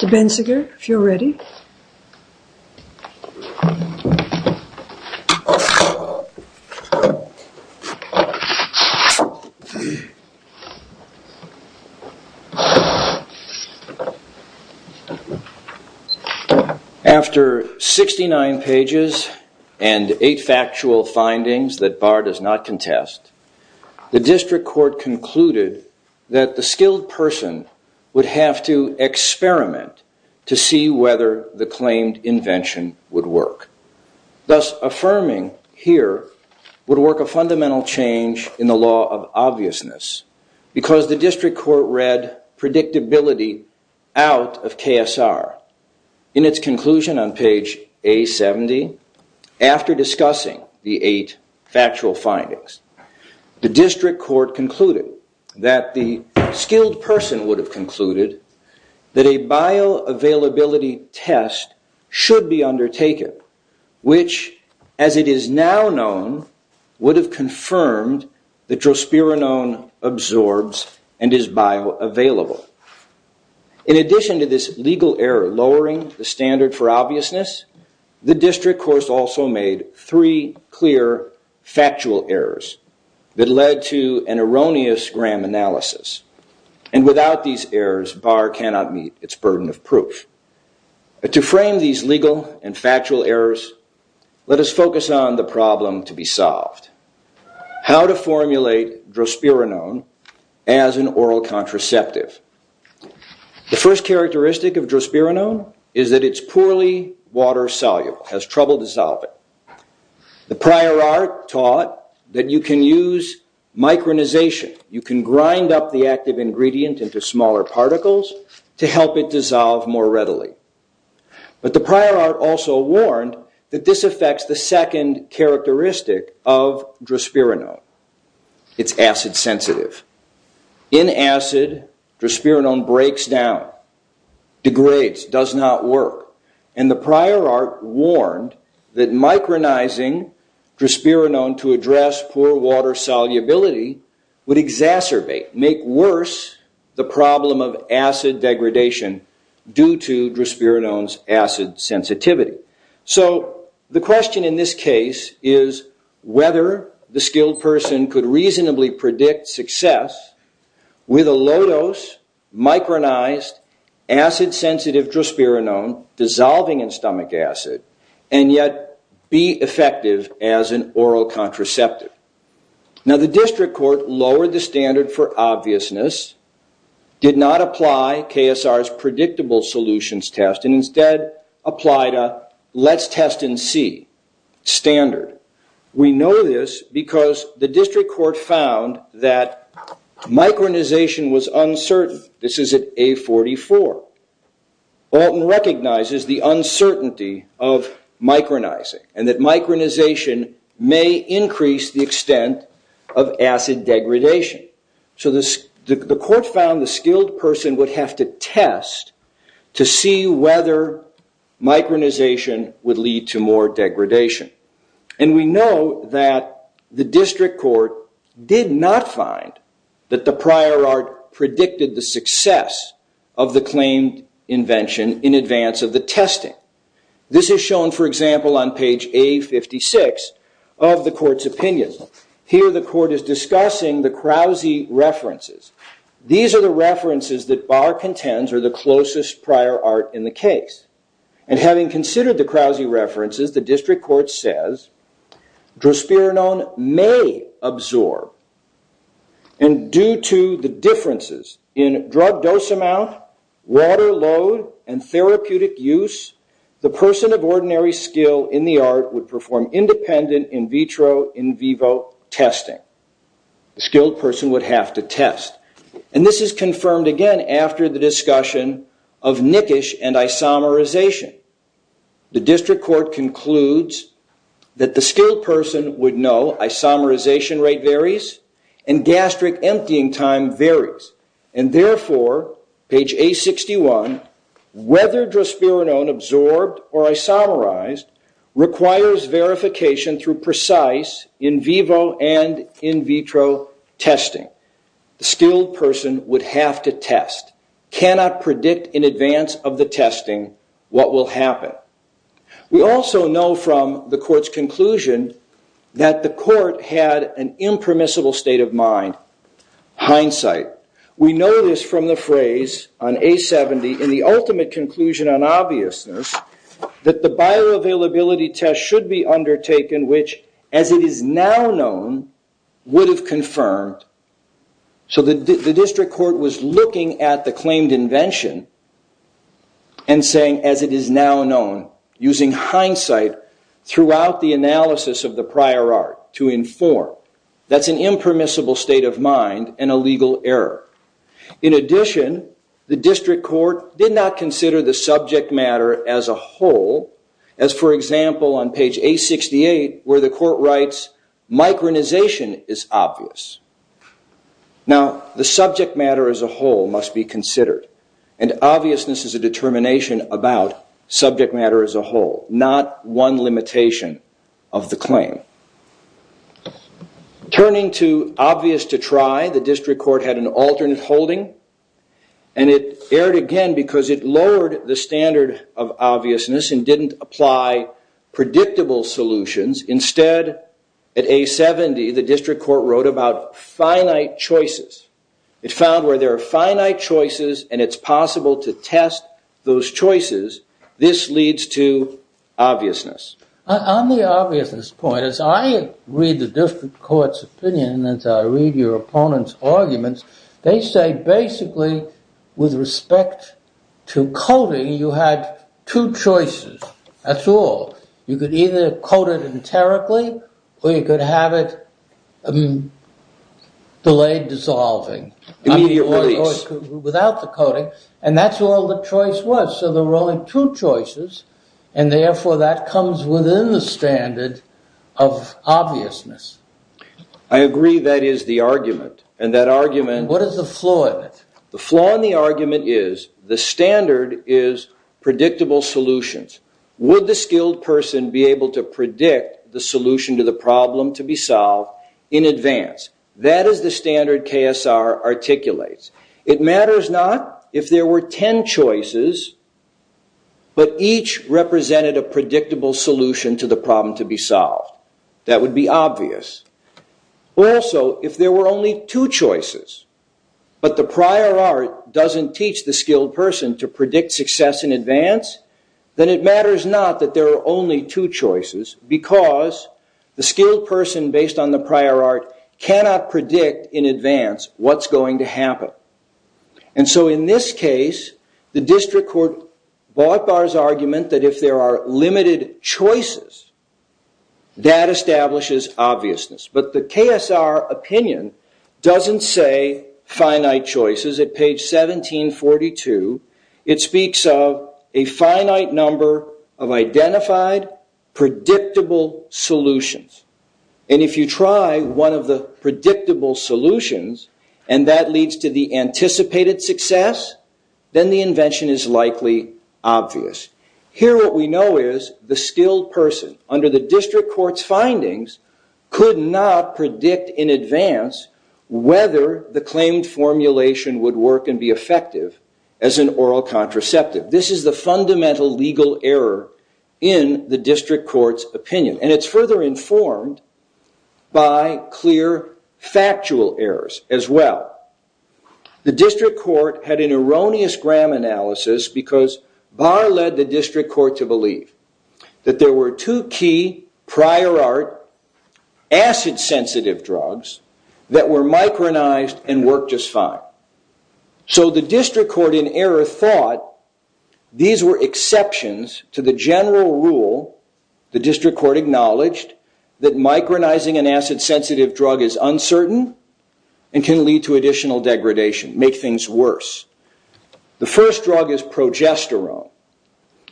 Human Services. If you're ready. After 69 pages and eight factual findings that Barr does not contest, the district court concluded that the skilled person would have to experiment to see if the claimed invention would work. Thus affirming here would work a fundamental change in the law of obviousness because the district court read predictability out of KSR. In its conclusion on page A70 after discussing the eight factual findings, the district court concluded that the skilled person would have concluded that a bioavailability test should be undertaken, which as it is now known would have confirmed that drosperinone absorbs and is bioavailable. In addition to this legal error lowering the standard for obviousness, the district court also made three clear factual errors that led to an erroneous gram analysis. And without these errors, Barr cannot meet its burden of proof. To frame these legal and factual errors, let us focus on the problem to be solved. How to formulate drosperinone as an oral contraceptive. The first characteristic of drosperinone is that it's poorly water soluble, has trouble dissolving. The prior art taught that you can use micronization. You can grind up the active ingredient into smaller particles to help it dissolve more readily. But the prior art also warned that this affects the second characteristic of drosperinone. It's acid sensitive. In acid, drosperinone breaks down, degrades, does not work. And the prior art warned that micronizing drosperinone to address poor water solubility would exacerbate, make worse, the problem of acid degradation due to drosperinone's acid sensitivity. So the question in this case is whether the skilled person could reasonably predict success with a low dose micronized acid sensitive drosperinone dissolving in stomach acid and yet be effective as an oral contraceptive. Now the district court lowered the standard for obviousness, did not apply KSR's predictable solutions test and instead applied a let's test and see standard. We know this because the district court found that micronization was uncertain. This is at A44. Alton recognizes the uncertainty of micronizing and that micronization may increase the extent of acid degradation. So the court found the skilled person would have to test to see whether micronization would lead to more degradation. And we know that the district court did not find that the prior art predicted the success of the claimed invention in advance of the testing. This is shown, for example, on page A56 of the court's opinion. Here the court is discussing the Krause references. These are the references that Barr contends are the closest prior art in the case. And having considered the Krause references, the district court says drosperinone may absorb and due to the differences in drug dose amount, water load, and therapeutic use, the person of ordinary skill in the art would perform independent in vitro, in vivo testing. The skilled person would have to test. And this is confirmed again after the discussion of nickish and isomerization. The district court concludes that the skilled person would know isomerization rate varies and gastric emptying time varies. And therefore, page A61, whether drosperinone absorbed or isomerized requires verification through precise in vivo and in vitro testing. The skilled person would have to test. Cannot predict in advance of the testing what will happen. We also know from the court's conclusion that the court had an impermissible state of mind. Hindsight. We know this from the phrase on A70 in the ultimate conclusion on obviousness that the bioavailability test should be undertaken, which as it is now known, would have confirmed. So the district court was looking at the claimed invention and saying, as it is now known, using hindsight throughout the analysis of the prior art to inform. That's an impermissible state of mind and a legal error. In addition, the district court did not consider the subject matter as a whole as, for example, on page A68 where the court writes micronization is obvious. Now, the subject matter as a whole must be considered. And obviousness is a determination about subject matter as a whole, not one limitation of the claim. Turning to obvious to try, the district court had an alternate holding. And it erred again because it lowered the standard of obviousness and didn't apply predictable solutions. Instead, at A70, the district court wrote about finite choices. It found where there are finite choices and it's possible to test those choices. This leads to obviousness. On the obviousness point, as I read the district court's opinion, as I read your opponent's arguments, they say basically, with respect to coding, you had two choices. That's all. You could either code it enterically or you could have it delayed dissolving. Immediate release. And that's all the choice was. So there were only two choices. And therefore, that comes within the standard of obviousness. I agree that is the argument. And that argument... What is the flaw in it? The flaw in the argument is the standard is predictable solutions. Would the skilled person be able to predict the solution to the problem to be solved in advance? That is the standard KSR articulates. It matters not if there were 10 choices, but each represented a predictable solution to the problem to be solved. That would be obvious. Also, if there were only two choices, but the prior art doesn't teach the skilled person to predict success in advance, then it matters not that there are only two choices because the skilled person based on the prior art cannot predict in advance what's going to happen. And so in this case, the district court bought Barr's argument that if there are limited choices, that establishes obviousness. But the KSR opinion doesn't say finite choices. At page 1742, it speaks of a finite number of identified predictable solutions. And if you try one of the predictable solutions, and that leads to the anticipated success, then the invention is likely obvious. Here what we know is the skilled person under the district court's findings could not predict in advance whether the claimed formulation would work and be effective as an oral contraceptive. This is the fundamental legal error in the district court's opinion. And it's further informed by clear factual errors as well. The district court had an erroneous gram analysis because Barr led the district court to believe that there were two key prior art acid sensitive drugs that were micronized and worked just fine. So the district court in error thought these were exceptions to the general rule the district court acknowledged that micronizing an acid sensitive drug is uncertain and can lead to additional degradation, make things worse. The first drug is progesterone.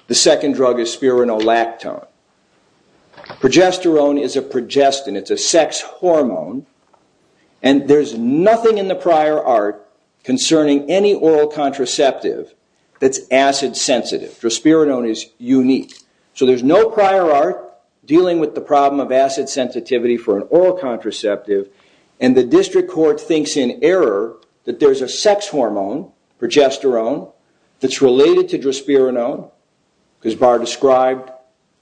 The second drug is spironolactone. Progesterone is a progestin. It's a sex hormone. And there's nothing in the prior art concerning any oral contraceptive that's acid sensitive. Drosperinone is unique. So there's no prior art dealing with the problem of acid sensitivity for an oral contraceptive. And the district court thinks in error that there's a sex hormone, progesterone, that's related to drosperinone because Barr described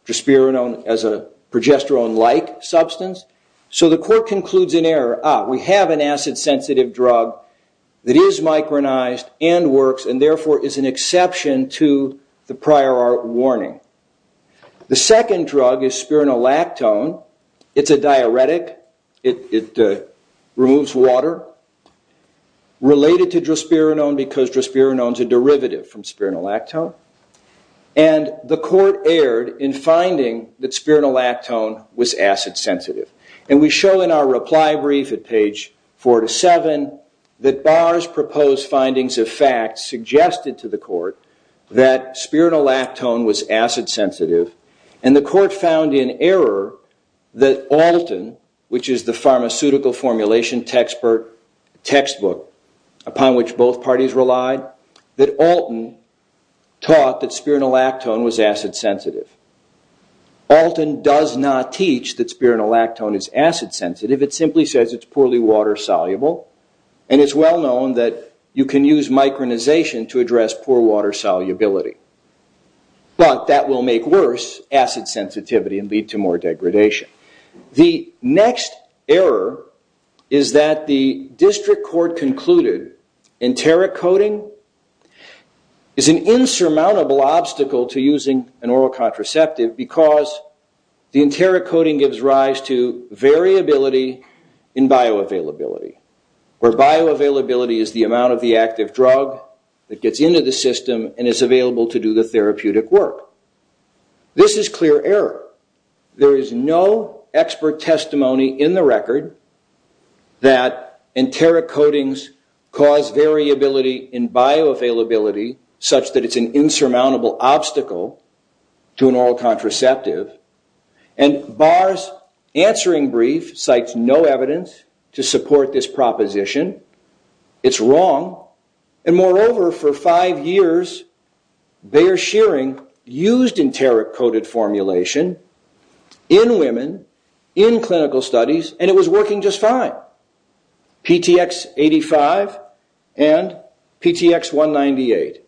drosperinone as a progesterone-like substance. So the court concludes in error, ah, we have an acid sensitive drug that is micronized and works and therefore is an exception to the prior art warning. The second drug is spironolactone. It's a diuretic. It removes water. Related to drosperinone because drosperinone is a derivative from spironolactone. And the court erred in finding that spironolactone was acid sensitive. And we show in our reply brief at page four to seven that Barr's proposed findings of fact suggested to the court that spironolactone was acid sensitive. And the court found in error that Alton, which is the pharmaceutical formulation textbook upon which both parties relied, that Alton taught that spironolactone was acid sensitive. Alton does not teach that spironolactone is acid sensitive. It simply says it's poorly water soluble. And it's well known that you can use micronization to address poor water solubility. But that will make worse acid sensitivity and lead to more degradation. The next error is that the district court concluded enteric coding is an insurmountable obstacle to using an oral contraceptive because the enteric coding gives rise to variability in bioavailability. Where bioavailability is the amount of the active drug that gets into the system and is available to do the therapeutic work. This is clear error. There is no expert testimony in the record that enteric codings cause variability in bioavailability such that it's an insurmountable obstacle to an oral contraceptive. And Barr's answering brief cites no evidence to support this proposition. It's wrong. And moreover, for five years, Bayer-Shearing used enteric coded formulation in women, in clinical studies, and it was working just fine. PTX85 and PTX198.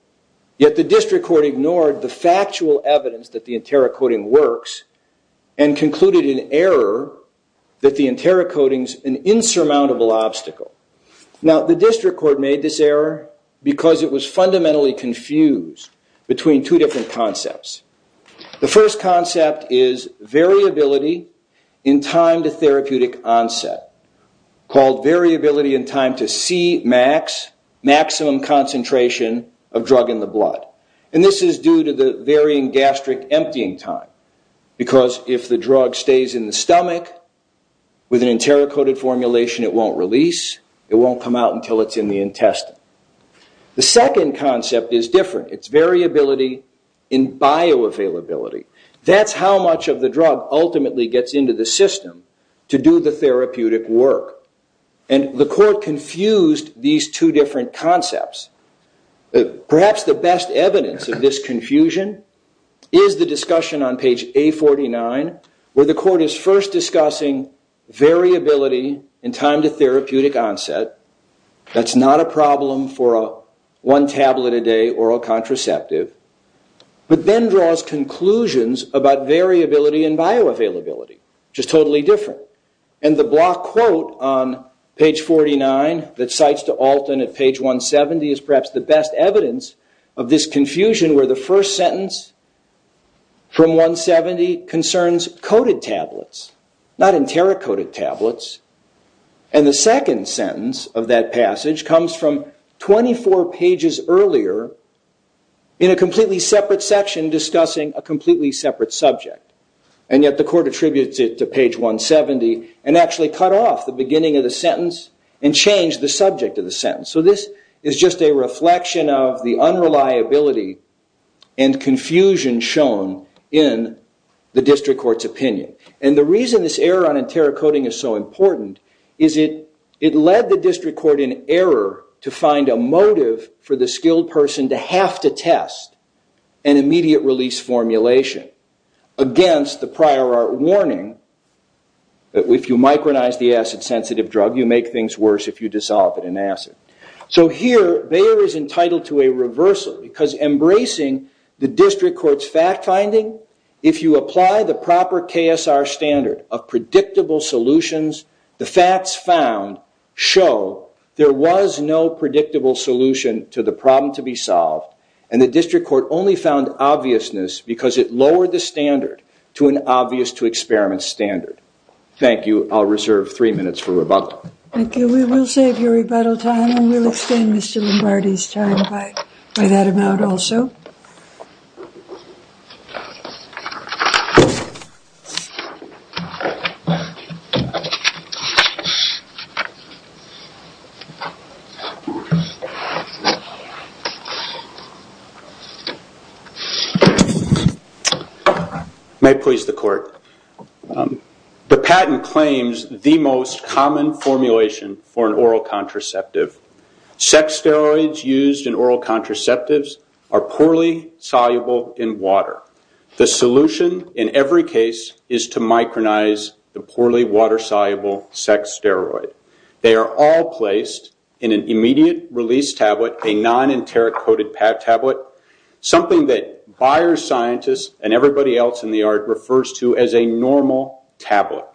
Yet the district court ignored the factual evidence that the enteric coding works and concluded in error that the enteric coding is an insurmountable obstacle. Now, the district court made this error because it was fundamentally confused between two different concepts. The first concept is variability in time to therapeutic onset, called variability in time to Cmax, maximum concentration of drug in the blood. And this is due to the varying gastric emptying time. Because if the drug stays in the stomach, with an enteric coded formulation, it won't release. It won't come out until it's in the intestine. The second concept is different. It's variability in bioavailability. That's how much of the drug ultimately gets into the system to do the therapeutic work. And the court confused these two different concepts. Perhaps the best evidence of this confusion is the discussion on page A49, where the court is first discussing variability in time to therapeutic onset. That's not a problem for a one-tablet-a-day oral contraceptive. But then draws conclusions about variability in bioavailability, which is totally different. And the block quote on page 49 that cites to Alton at page 170 is perhaps the best evidence of this confusion, where the first sentence from 170 concerns coded tablets, not enteric coded tablets. And the second sentence of that passage comes from 24 pages earlier in a completely separate section discussing a completely separate subject. And yet the court attributes it to page 170 and actually cut off the beginning of the sentence and changed the subject of the sentence. So this is just a reflection of the unreliability and confusion shown in the district court's opinion. And the reason this error on enteric coding is so important is it led the district court in error to find a motive for the skilled person to have to test an immediate release formulation against the prior art warning that if you micronize the acid-sensitive drug, you make things worse if you dissolve it in acid. So here, Bayer is entitled to a reversal because embracing the district court's fact-finding, if you apply the proper KSR standard of predictable solutions, the facts found show there was no predictable solution to the problem to be solved. And the district court only found obviousness because it lowered the standard to an obvious-to-experiment standard. Thank you. I'll reserve three minutes for rebuttal. Thank you. We will save your rebuttal time and we'll extend Mr. Lombardi's time by that amount also. May it please the court. The patent claims the most common formulation for an oral contraceptive. Sex steroids used in oral contraceptives are poorly soluble in water. The solution in every case is to micronize the poorly water-soluble sex steroid. They are all placed in an immediate release tablet, a non-enteric coded tablet, something that Bayer scientists and everybody else in the art refers to as a normal tablet.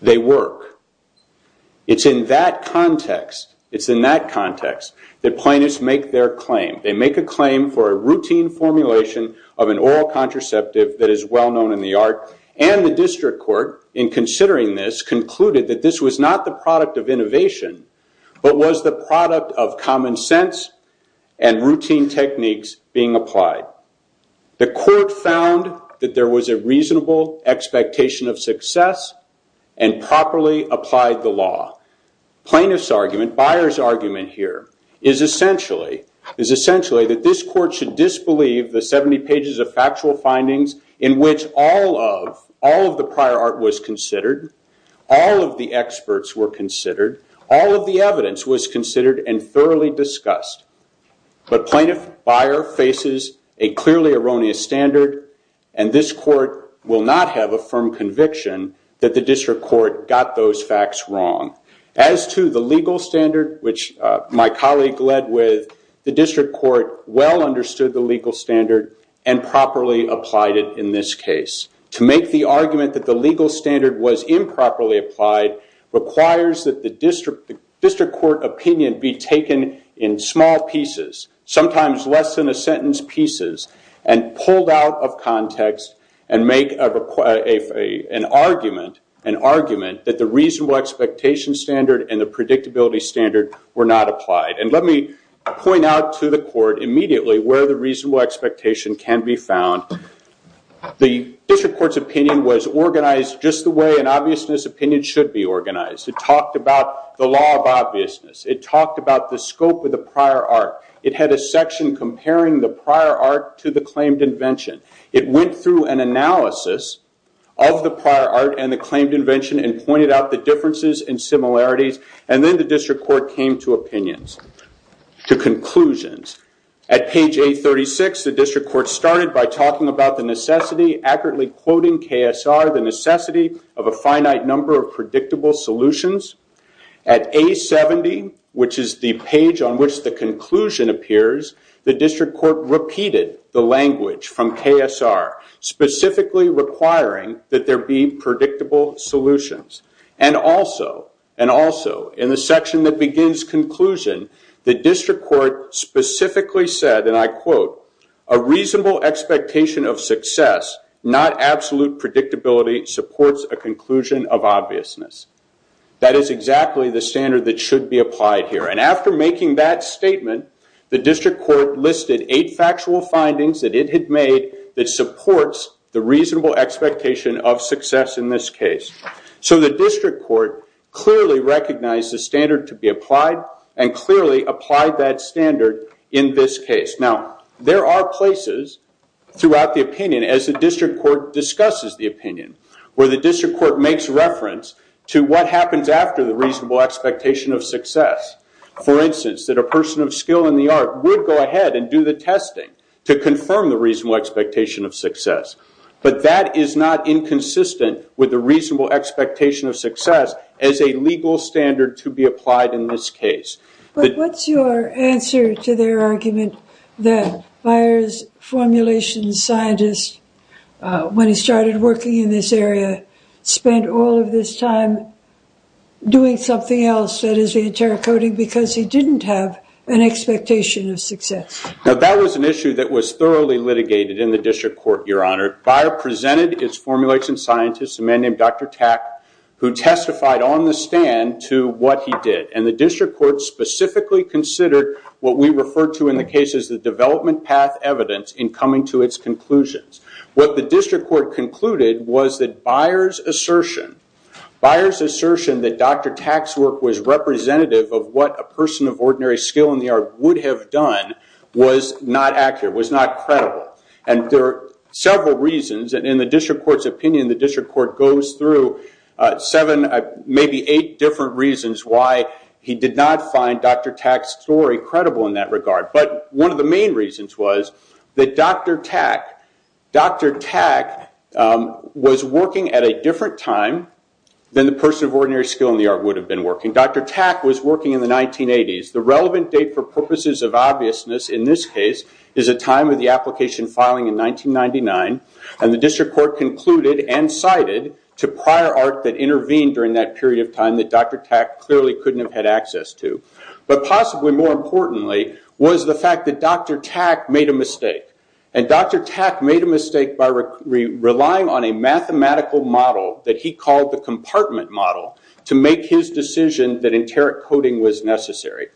They work. It's in that context that plaintiffs make their claim. They make a claim for a routine formulation of an oral contraceptive that is well-known in the art. And the district court, in considering this, concluded that this was not the product of innovation, but was the product of common sense and routine techniques being applied. The court found that there was a reasonable expectation of success and properly applied the law. Plaintiff's argument, Bayer's argument here, is essentially that this court should disbelieve the 70 pages of factual findings in which all of the prior art was considered, all of the experts were considered, all of the evidence was considered and thoroughly discussed. But plaintiff Bayer faces a clearly erroneous standard and this court will not have a firm conviction that the district court got those facts wrong. As to the legal standard, which my colleague led with, the district court well understood the legal standard and properly applied it in this case. To make the argument that the legal standard was improperly applied requires that the district court opinion be taken in small pieces, sometimes less than a sentence pieces, and pulled out of context and make an argument that the reasonable expectation standard and the predictability standard were not applied. And let me point out to the court immediately where the reasonable expectation can be found. The district court's opinion was organized just the way an obviousness opinion should be organized. It talked about the law of obviousness. It talked about the scope of the prior art. It had a section comparing the prior art to the claimed invention. It went through an analysis of the prior art and the claimed invention and pointed out the differences and similarities. And then the district court came to opinions, to conclusions. At page 836, the district court started by talking about the necessity, accurately quoting KSR, the necessity of a finite number of predictable solutions. At A70, which is the page on which the conclusion appears, the district court repeated the language from KSR, specifically requiring that there be predictable solutions. And also, and also, in the section that begins conclusion, the district court specifically said, and I quote, a reasonable expectation of success, not absolute predictability, supports a conclusion of obviousness. That is exactly the standard that should be applied here. And after making that statement, the district court listed eight factual findings that it had made that supports the reasonable expectation of success in this case. So the district court clearly recognized the standard to be applied and clearly applied that standard in this case. Now, there are places throughout the opinion, as the district court discusses the opinion, where the district court makes reference to what happens after the reasonable expectation of success. For instance, that a person of skill in the art would go ahead and do the testing to confirm the reasonable expectation of success. But that is not inconsistent with the reasonable expectation of success as a legal standard to be applied in this case. But what's your answer to their argument that Byers' formulation scientist, when he started working in this area, spent all of this time doing something else, that is the interrogating because he didn't have an expectation of success. Now, that was an issue that was thoroughly litigated in the district court, Your Honor. Byers presented his formulation scientist, a man named Dr. Tack, who testified on the stand to what he did. And the district court specifically considered what we refer to in the case as the development path evidence in coming to its conclusions. What the district court concluded was that Byers' assertion, Byers' assertion that Dr. Tack's work was representative of what a person of ordinary skill in the art would have done, was not accurate, was not credible. And there are several reasons, and in the district court's opinion, the district court goes through seven, maybe eight different reasons why he did not find Dr. Tack's story credible in that regard. But one of the main reasons was that Dr. Tack was working at a different time than the person of ordinary skill in the art would have been working. Dr. Tack was working in the 1980s. The relevant date for purposes of obviousness in this case is a time of the application filing in 1999, and the district court concluded and cited to prior art that intervened during that period of time that Dr. Tack clearly couldn't have had access to. But possibly more importantly was the fact that Dr. Tack made a mistake. And Dr. Tack made a mistake by relying on a mathematical model that he called the compartment model to make his decision that enteric coding was necessary.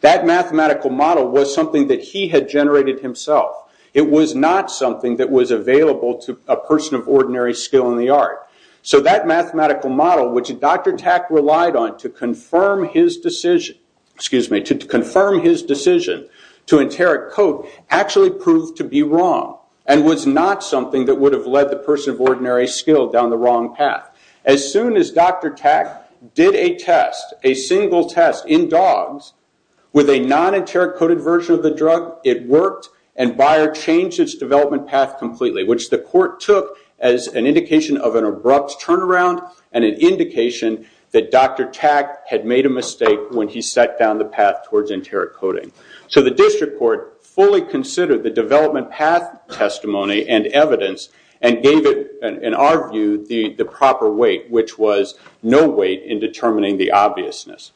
That mathematical model was something that he had generated himself. It was not something that was available to a person of ordinary skill in the art. So that mathematical model, which Dr. Tack relied on to confirm his decision to enteric code, actually proved to be wrong and was not something that would have led the person of ordinary skill down the wrong path. As soon as Dr. Tack did a test, a single test in dogs with a non-enteric coded version of the drug, it worked and Bayer changed its development path completely, which the court took as an indication of an abrupt turnaround and an indication that Dr. Tack had made a mistake when he set down the path towards enteric coding. So the district court fully considered the development path testimony and evidence and gave it, in our view, the proper weight, which was no weight in determining the obviousness.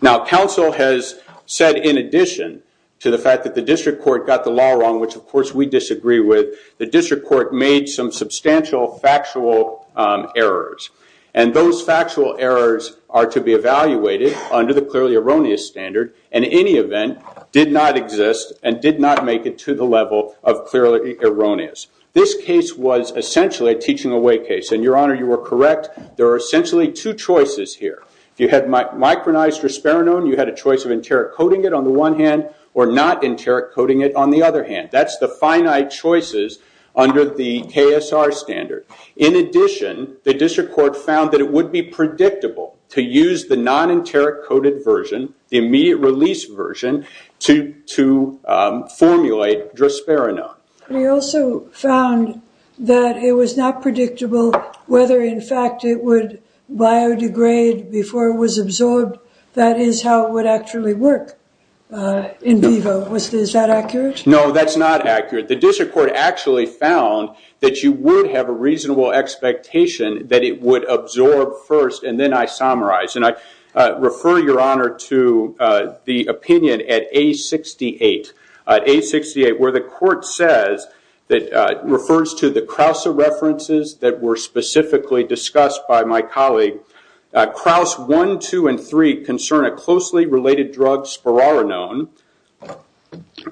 Now, counsel has said in addition to the fact that the district court got the law wrong, which of course we disagree with, the district court made some substantial factual errors. And those factual errors are to be evaluated under the clearly erroneous standard, and in any event, did not exist and did not make it to the level of clearly erroneous. This case was essentially a teaching away case. And your honor, you are correct. There are essentially two choices here. If you had micronized drosperinone, you had a choice of enteric coding it on the one hand or not enteric coding it on the other hand. That's the finite choices under the KSR standard. In addition, the district court found that it would be predictable to use the non-enteric coded version, the immediate release version, to formulate drosperinone. We also found that it was not predictable whether, in fact, it would biodegrade before it was absorbed. That is how it would actually work in vivo. Is that accurate? No, that's not accurate. The district court actually found that you would have a reasonable expectation that it would absorb first and then isomerize, and I refer your honor to the opinion at A68. Where the court says that it refers to the Krause references that were specifically discussed by my colleague. Krause 1, 2, and 3 concern a closely related drug, spororinone,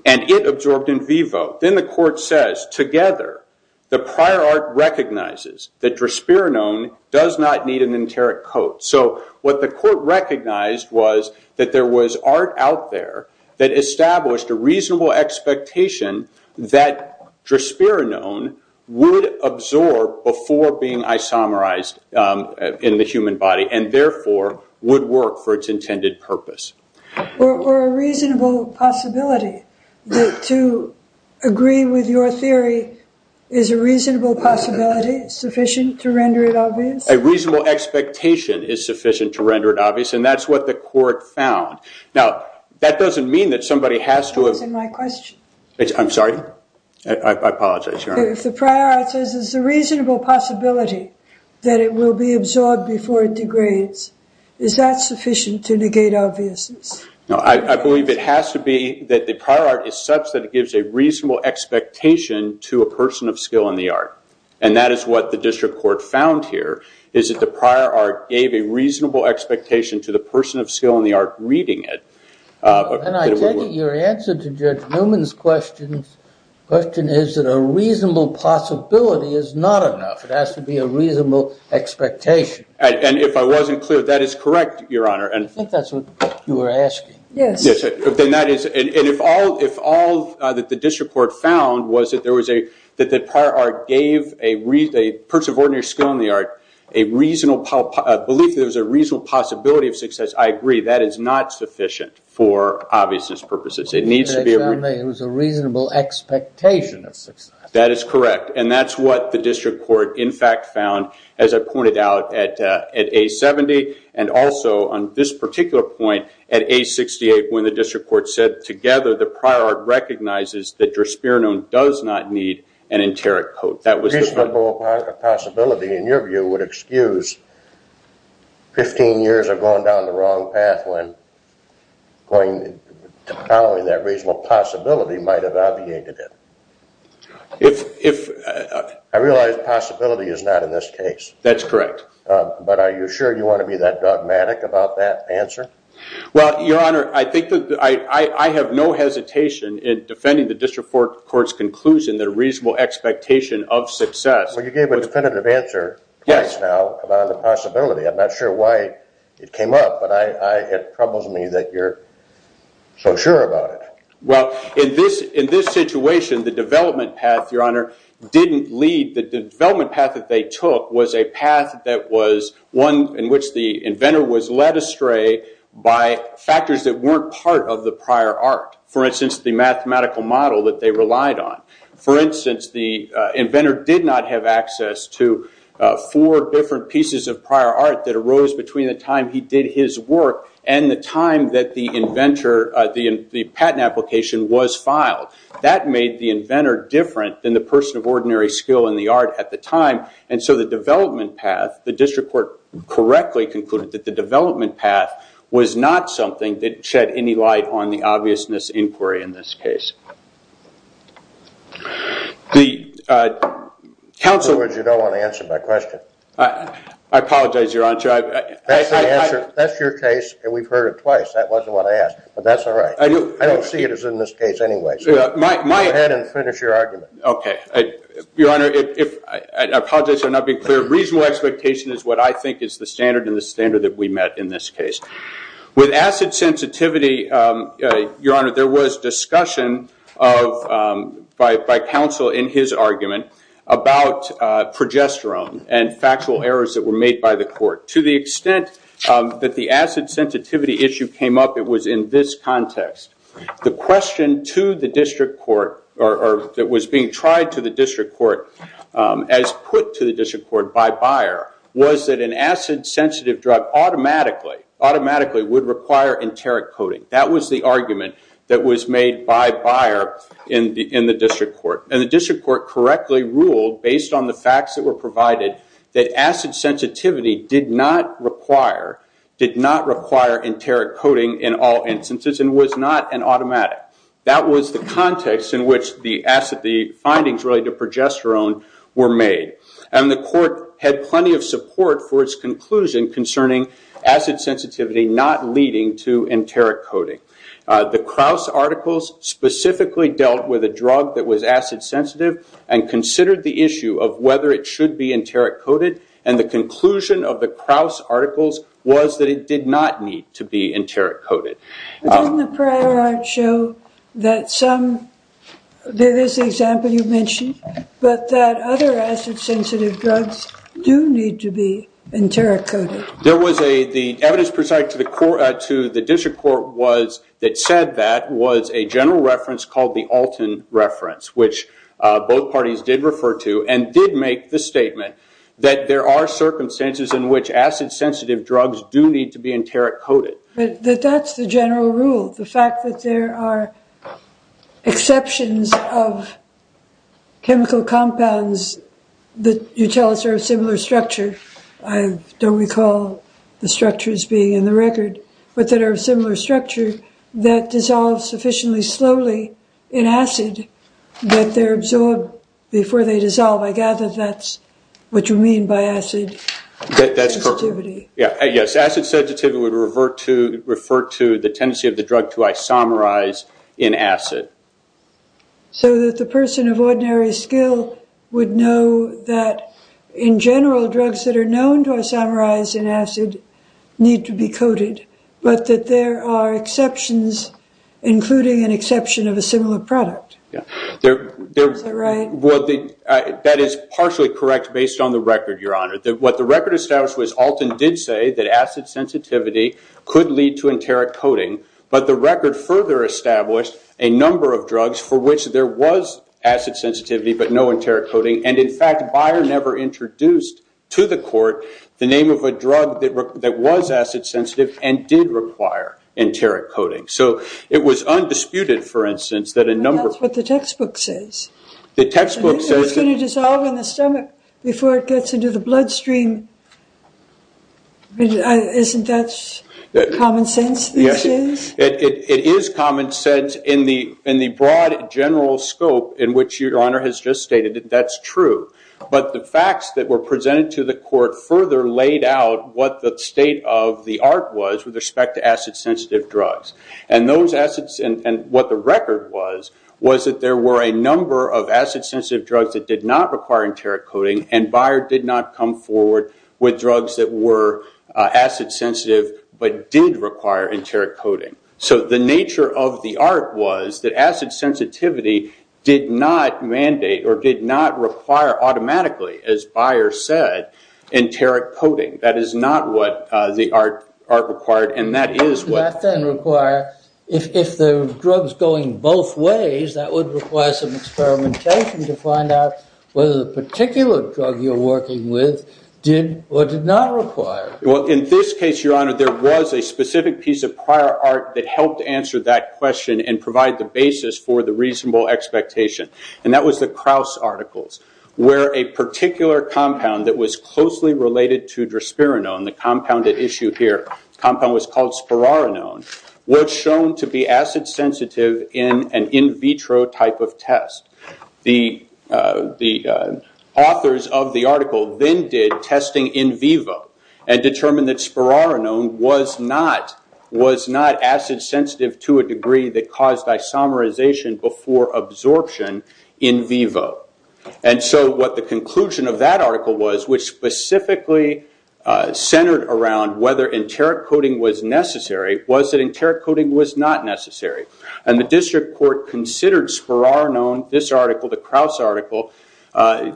and it absorbed in vivo. Then the court says, together, the prior art recognizes that drosperinone does not need an enteric code. What the court recognized was that there was art out there that established a reasonable expectation that drosperinone would absorb before being isomerized in the human body and therefore would work for its intended purpose. Or a reasonable possibility. To agree with your theory, is a reasonable possibility sufficient to render it obvious? A reasonable expectation is sufficient to render it obvious, and that's what the court found. Now, that doesn't mean that somebody has to... Answer my question. I'm sorry? I apologize, your honor. If the prior art says there's a reasonable possibility that it will be absorbed before it degrades, is that sufficient to negate obviousness? No, I believe it has to be that the prior art is such that it gives a reasonable expectation to a person of skill in the art. And that is what the district court found here, is that the prior art gave a reasonable expectation to the person of skill in the art reading it. And I take it your answer to Judge Newman's question is that a reasonable possibility is not enough. It has to be a reasonable expectation. And if I wasn't clear, that is correct, your honor. I think that's what you were asking. Yes. And if all that the district court found was that the prior art gave a person of ordinary skill in the art a reasonable belief that there was a reasonable possibility of success, I agree. That is not sufficient for obviousness purposes. It needs to be... It was a reasonable expectation of success. That is correct. And that's what the district court, in fact, found, as I pointed out, at A70, and also on this particular point at A68, when the district court said together the prior art recognizes that Drosperinone does not need an enteric coat. A reasonable possibility, in your view, would excuse 15 years of going down the wrong path when following that reasonable possibility might have obviated it. If... I realize possibility is not in this case. That's correct. But are you sure you want to be that dogmatic about that answer? Well, your honor, I think that I have no hesitation in defending the district court's conclusion that a reasonable expectation of success... Well, you gave a definitive answer twice now about the possibility. I'm not sure why it came up, but it troubles me that you're so sure about it. Well, in this situation, the development path, your honor, didn't lead... was one in which the inventor was led astray by factors that weren't part of the prior art. For instance, the mathematical model that they relied on. For instance, the inventor did not have access to four different pieces of prior art that arose between the time he did his work and the time that the patent application was filed. That made the inventor different than the person of ordinary skill in the art at the time. And so the development path, the district court correctly concluded that the development path was not something that shed any light on the obviousness inquiry in this case. In other words, you don't want to answer my question. I apologize, your honor. That's your case, and we've heard it twice. That wasn't what I asked, but that's all right. I don't see it as in this case anyway, so go ahead and finish your argument. Your honor, I apologize for not being clear. Reasonable expectation is what I think is the standard and the standard that we met in this case. With acid sensitivity, your honor, there was discussion by counsel in his argument about progesterone and factual errors that were made by the court. To the extent that the acid sensitivity issue came up, it was in this context. The question that was being tried to the district court as put to the district court by Beyer was that an acid sensitive drug automatically would require enteric coating. That was the argument that was made by Beyer in the district court. And the district court correctly ruled, based on the facts that were provided, that acid sensitivity did not require enteric coating in all instances and was not an automatic. That was the context in which the findings related to progesterone were made. And the court had plenty of support for its conclusion concerning acid sensitivity not leading to enteric coating. The Krauss articles specifically dealt with a drug that was acid sensitive and considered the issue of whether it should be enteric coated, and the conclusion of the Krauss articles was that it did not need to be enteric coated. Didn't the prior art show that some, there's the example you mentioned, but that other acid sensitive drugs do need to be enteric coated? The evidence presented to the district court that said that was a general reference called the Alton reference, which both parties did refer to, and did make the statement that there are circumstances in which acid sensitive drugs do need to be enteric coated. But that's the general rule, the fact that there are exceptions of chemical compounds that you tell us are of similar structure. I don't recall the structures being in the record, but that are of similar structure that dissolve sufficiently slowly in acid that they're absorbed before they dissolve. I gather that's what you mean by acid sensitivity. Yes, acid sensitivity would refer to the tendency of the drug to isomerize in acid. So that the person of ordinary skill would know that in general drugs that are known to isomerize in acid need to be coated, but that there are exceptions, including an exception of a similar product. Is that right? Well, that is partially correct based on the record, Your Honor. What the record established was Alton did say that acid sensitivity could lead to enteric coating, but the record further established a number of drugs for which there was acid sensitivity, but no enteric coating. And in fact, Beyer never introduced to the court the name of a drug that was acid sensitive and did require enteric coating. So it was undisputed, for instance, that a number of- But that's what the textbook says. The textbook says- It's going to dissolve in the stomach before it gets into the bloodstream. Isn't that common sense, this is? It is common sense in the broad general scope in which Your Honor has just stated. That's true. But the facts that were presented to the court further laid out what the state of the art was with respect to acid sensitive drugs. And what the record was, was that there were a number of acid sensitive drugs that did not require enteric coating, and Beyer did not come forward with drugs that were acid sensitive but did require enteric coating. So the nature of the art was that acid sensitivity did not mandate or did not require automatically, as Beyer said, enteric coating. That is not what the art required, and that is what- If the drug's going both ways, that would require some experimentation to find out whether the particular drug you're working with did or did not require. Well, in this case, Your Honor, there was a specific piece of prior art that helped answer that question and provide the basis for the reasonable expectation. And that was the Krauss articles, where a particular compound that was closely related to drosperinone, the compound at issue here, the compound was called spororinone, was shown to be acid sensitive in an in vitro type of test. The authors of the article then did testing in vivo and determined that spororinone was not acid sensitive to a degree that caused isomerization before absorption in vivo. And so what the conclusion of that article was, which specifically centered around whether enteric coating was necessary, was that enteric coating was not necessary. And the district court considered spororinone, this article, the Krauss article,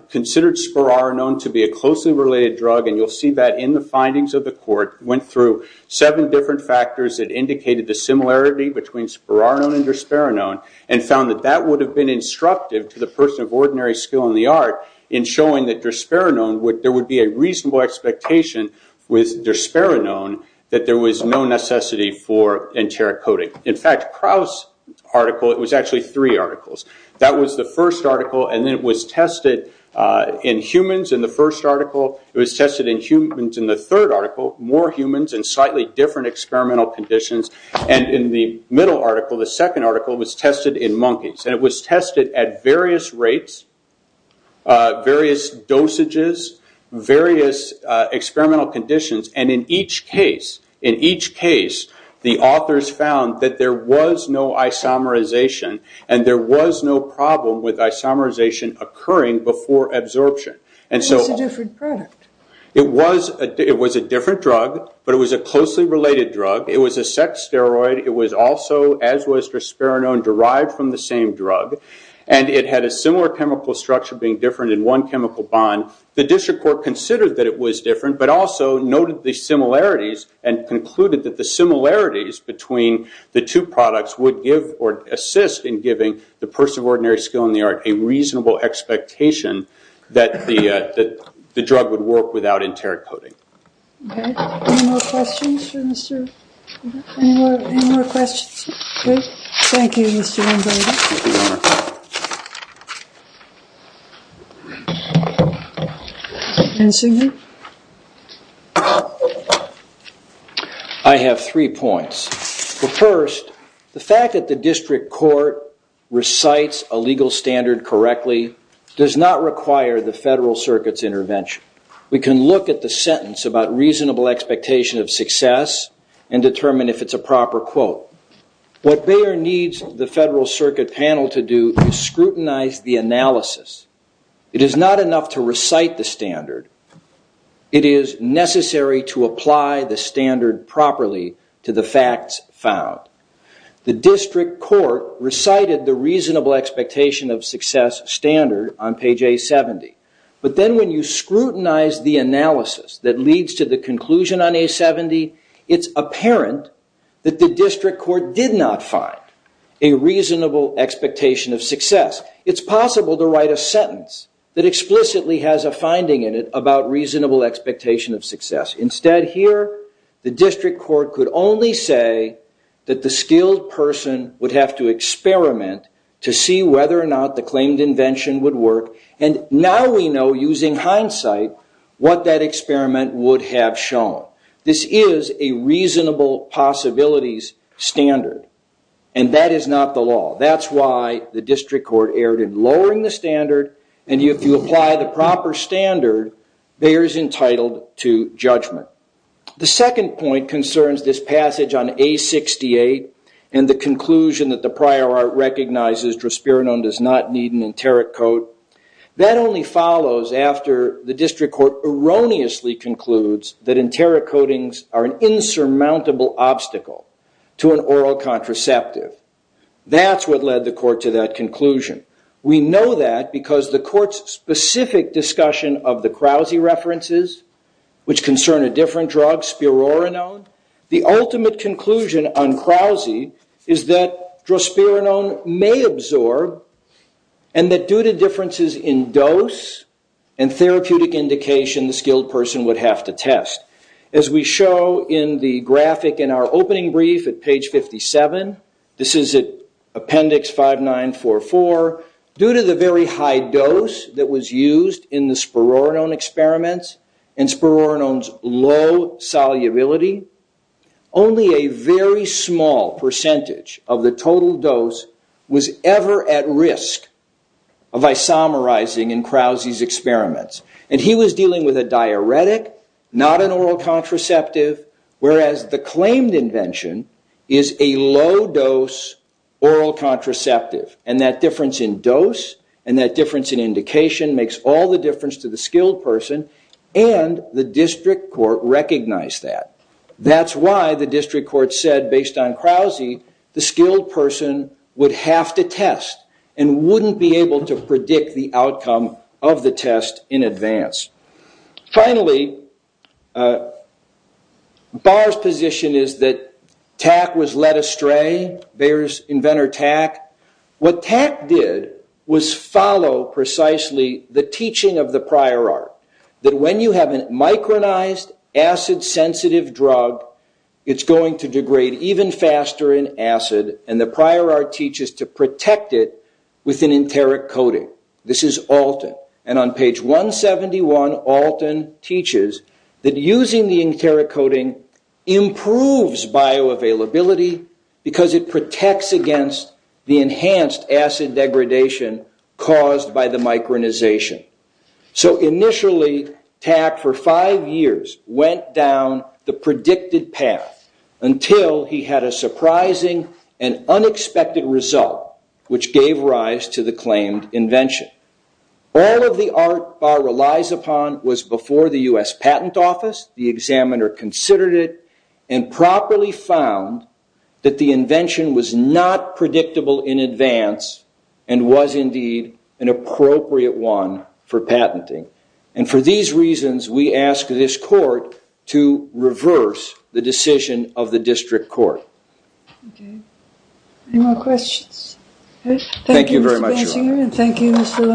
considered spororinone to be a closely related drug, and you'll see that in the findings of the court, went through seven different factors that indicated the similarity between spororinone and drosperinone, and found that that would have been instructive to the person of ordinary skill in the art in showing that drosperinone, there would be a reasonable expectation with drosperinone that there was no necessity for enteric coating. In fact, Krauss article, it was actually three articles. That was the first article, and then it was tested in humans in the first article. It was tested in humans in the third article, more humans in slightly different experimental conditions. And in the middle article, the second article, it was tested in monkeys. And it was tested at various rates, various dosages, various experimental conditions. And in each case, in each case, the authors found that there was no isomerization, and there was no problem with isomerization occurring before absorption. It was a different product. It was a different drug, but it was a closely related drug. It was a sex steroid. It was also, as was drosperinone, derived from the same drug. And it had a similar chemical structure being different in one chemical bond. The district court considered that it was different, but also noted the similarities and concluded that the similarities between the two products would give or assist in giving the person of ordinary skill in the art a reasonable expectation that the drug would work without enteric coating. Any more questions? Any more questions? Thank you, Mr. Lombardi. Ensign? I have three points. First, the fact that the district court recites a legal standard correctly does not require the Federal Circuit's intervention. We can look at the sentence about reasonable expectation of success and determine if it's a proper quote. What Bayer needs the Federal Circuit panel to do is scrutinize the analysis. It is not enough to recite the standard. It is necessary to apply the standard properly to the facts found. The district court recited the reasonable expectation of success standard on page A70. But then when you scrutinize the analysis that leads to the conclusion on A70, it's apparent that the district court did not find a reasonable expectation of success. It's possible to write a sentence that explicitly has a finding in it about reasonable expectation of success. Instead here, the district court could only say that the skilled person would have to experiment to see whether or not the claimed invention would work. And now we know, using hindsight, what that experiment would have shown. This is a reasonable possibilities standard. And that is not the law. That's why the district court erred in lowering the standard. And if you apply the proper standard, Bayer is entitled to judgment. The second point concerns this passage on A68 and the conclusion that the prior art recognizes drosperinone does not need an enteric coat. That only follows after the district court erroneously concludes that enteric coatings are an insurmountable obstacle to an oral contraceptive. That's what led the court to that conclusion. We know that because the court's specific discussion of the Krause references, which concern a different drug, spironone, the ultimate conclusion on Krause is that drosperinone may absorb, and that due to differences in dose and therapeutic indication, the skilled person would have to test. As we show in the graphic in our opening brief at page 57, this is at appendix 5944, due to the very high dose that was used in the spironone experiments and spironone's low solubility, only a very small percentage of the total dose was ever at risk of isomerizing in Krause's experiments. And he was dealing with a diuretic, not an oral contraceptive, whereas the claimed invention is a low-dose oral contraceptive. And that difference in dose and that difference in indication makes all the difference to the skilled person, and the district court recognized that. That's why the district court said, based on Krause, the skilled person would have to test and wouldn't be able to predict the outcome of the test in advance. Finally, Barr's position is that Tack was led astray, Bayer's inventor Tack. What Tack did was follow precisely the teaching of the prior art, that when you have a micronized, acid-sensitive drug, it's going to degrade even faster in acid, and the prior art teaches to protect it with an enteric coating. This is Alton, and on page 171, Alton teaches that using the enteric coating improves bioavailability because it protects against the enhanced acid degradation caused by the micronization. So initially, Tack, for five years, went down the predicted path until he had a surprising and unexpected result, which gave rise to the claimed invention. All of the art Barr relies upon was before the U.S. Patent Office, the examiner considered it, and properly found that the invention was not predictable in advance and was indeed an appropriate one for patenting. And for these reasons, we ask this court to reverse the decision of the district court. Okay. Any more questions? Thank you very much. Thank you, Mr. Basinger, and thank you, Mr. Lohmann.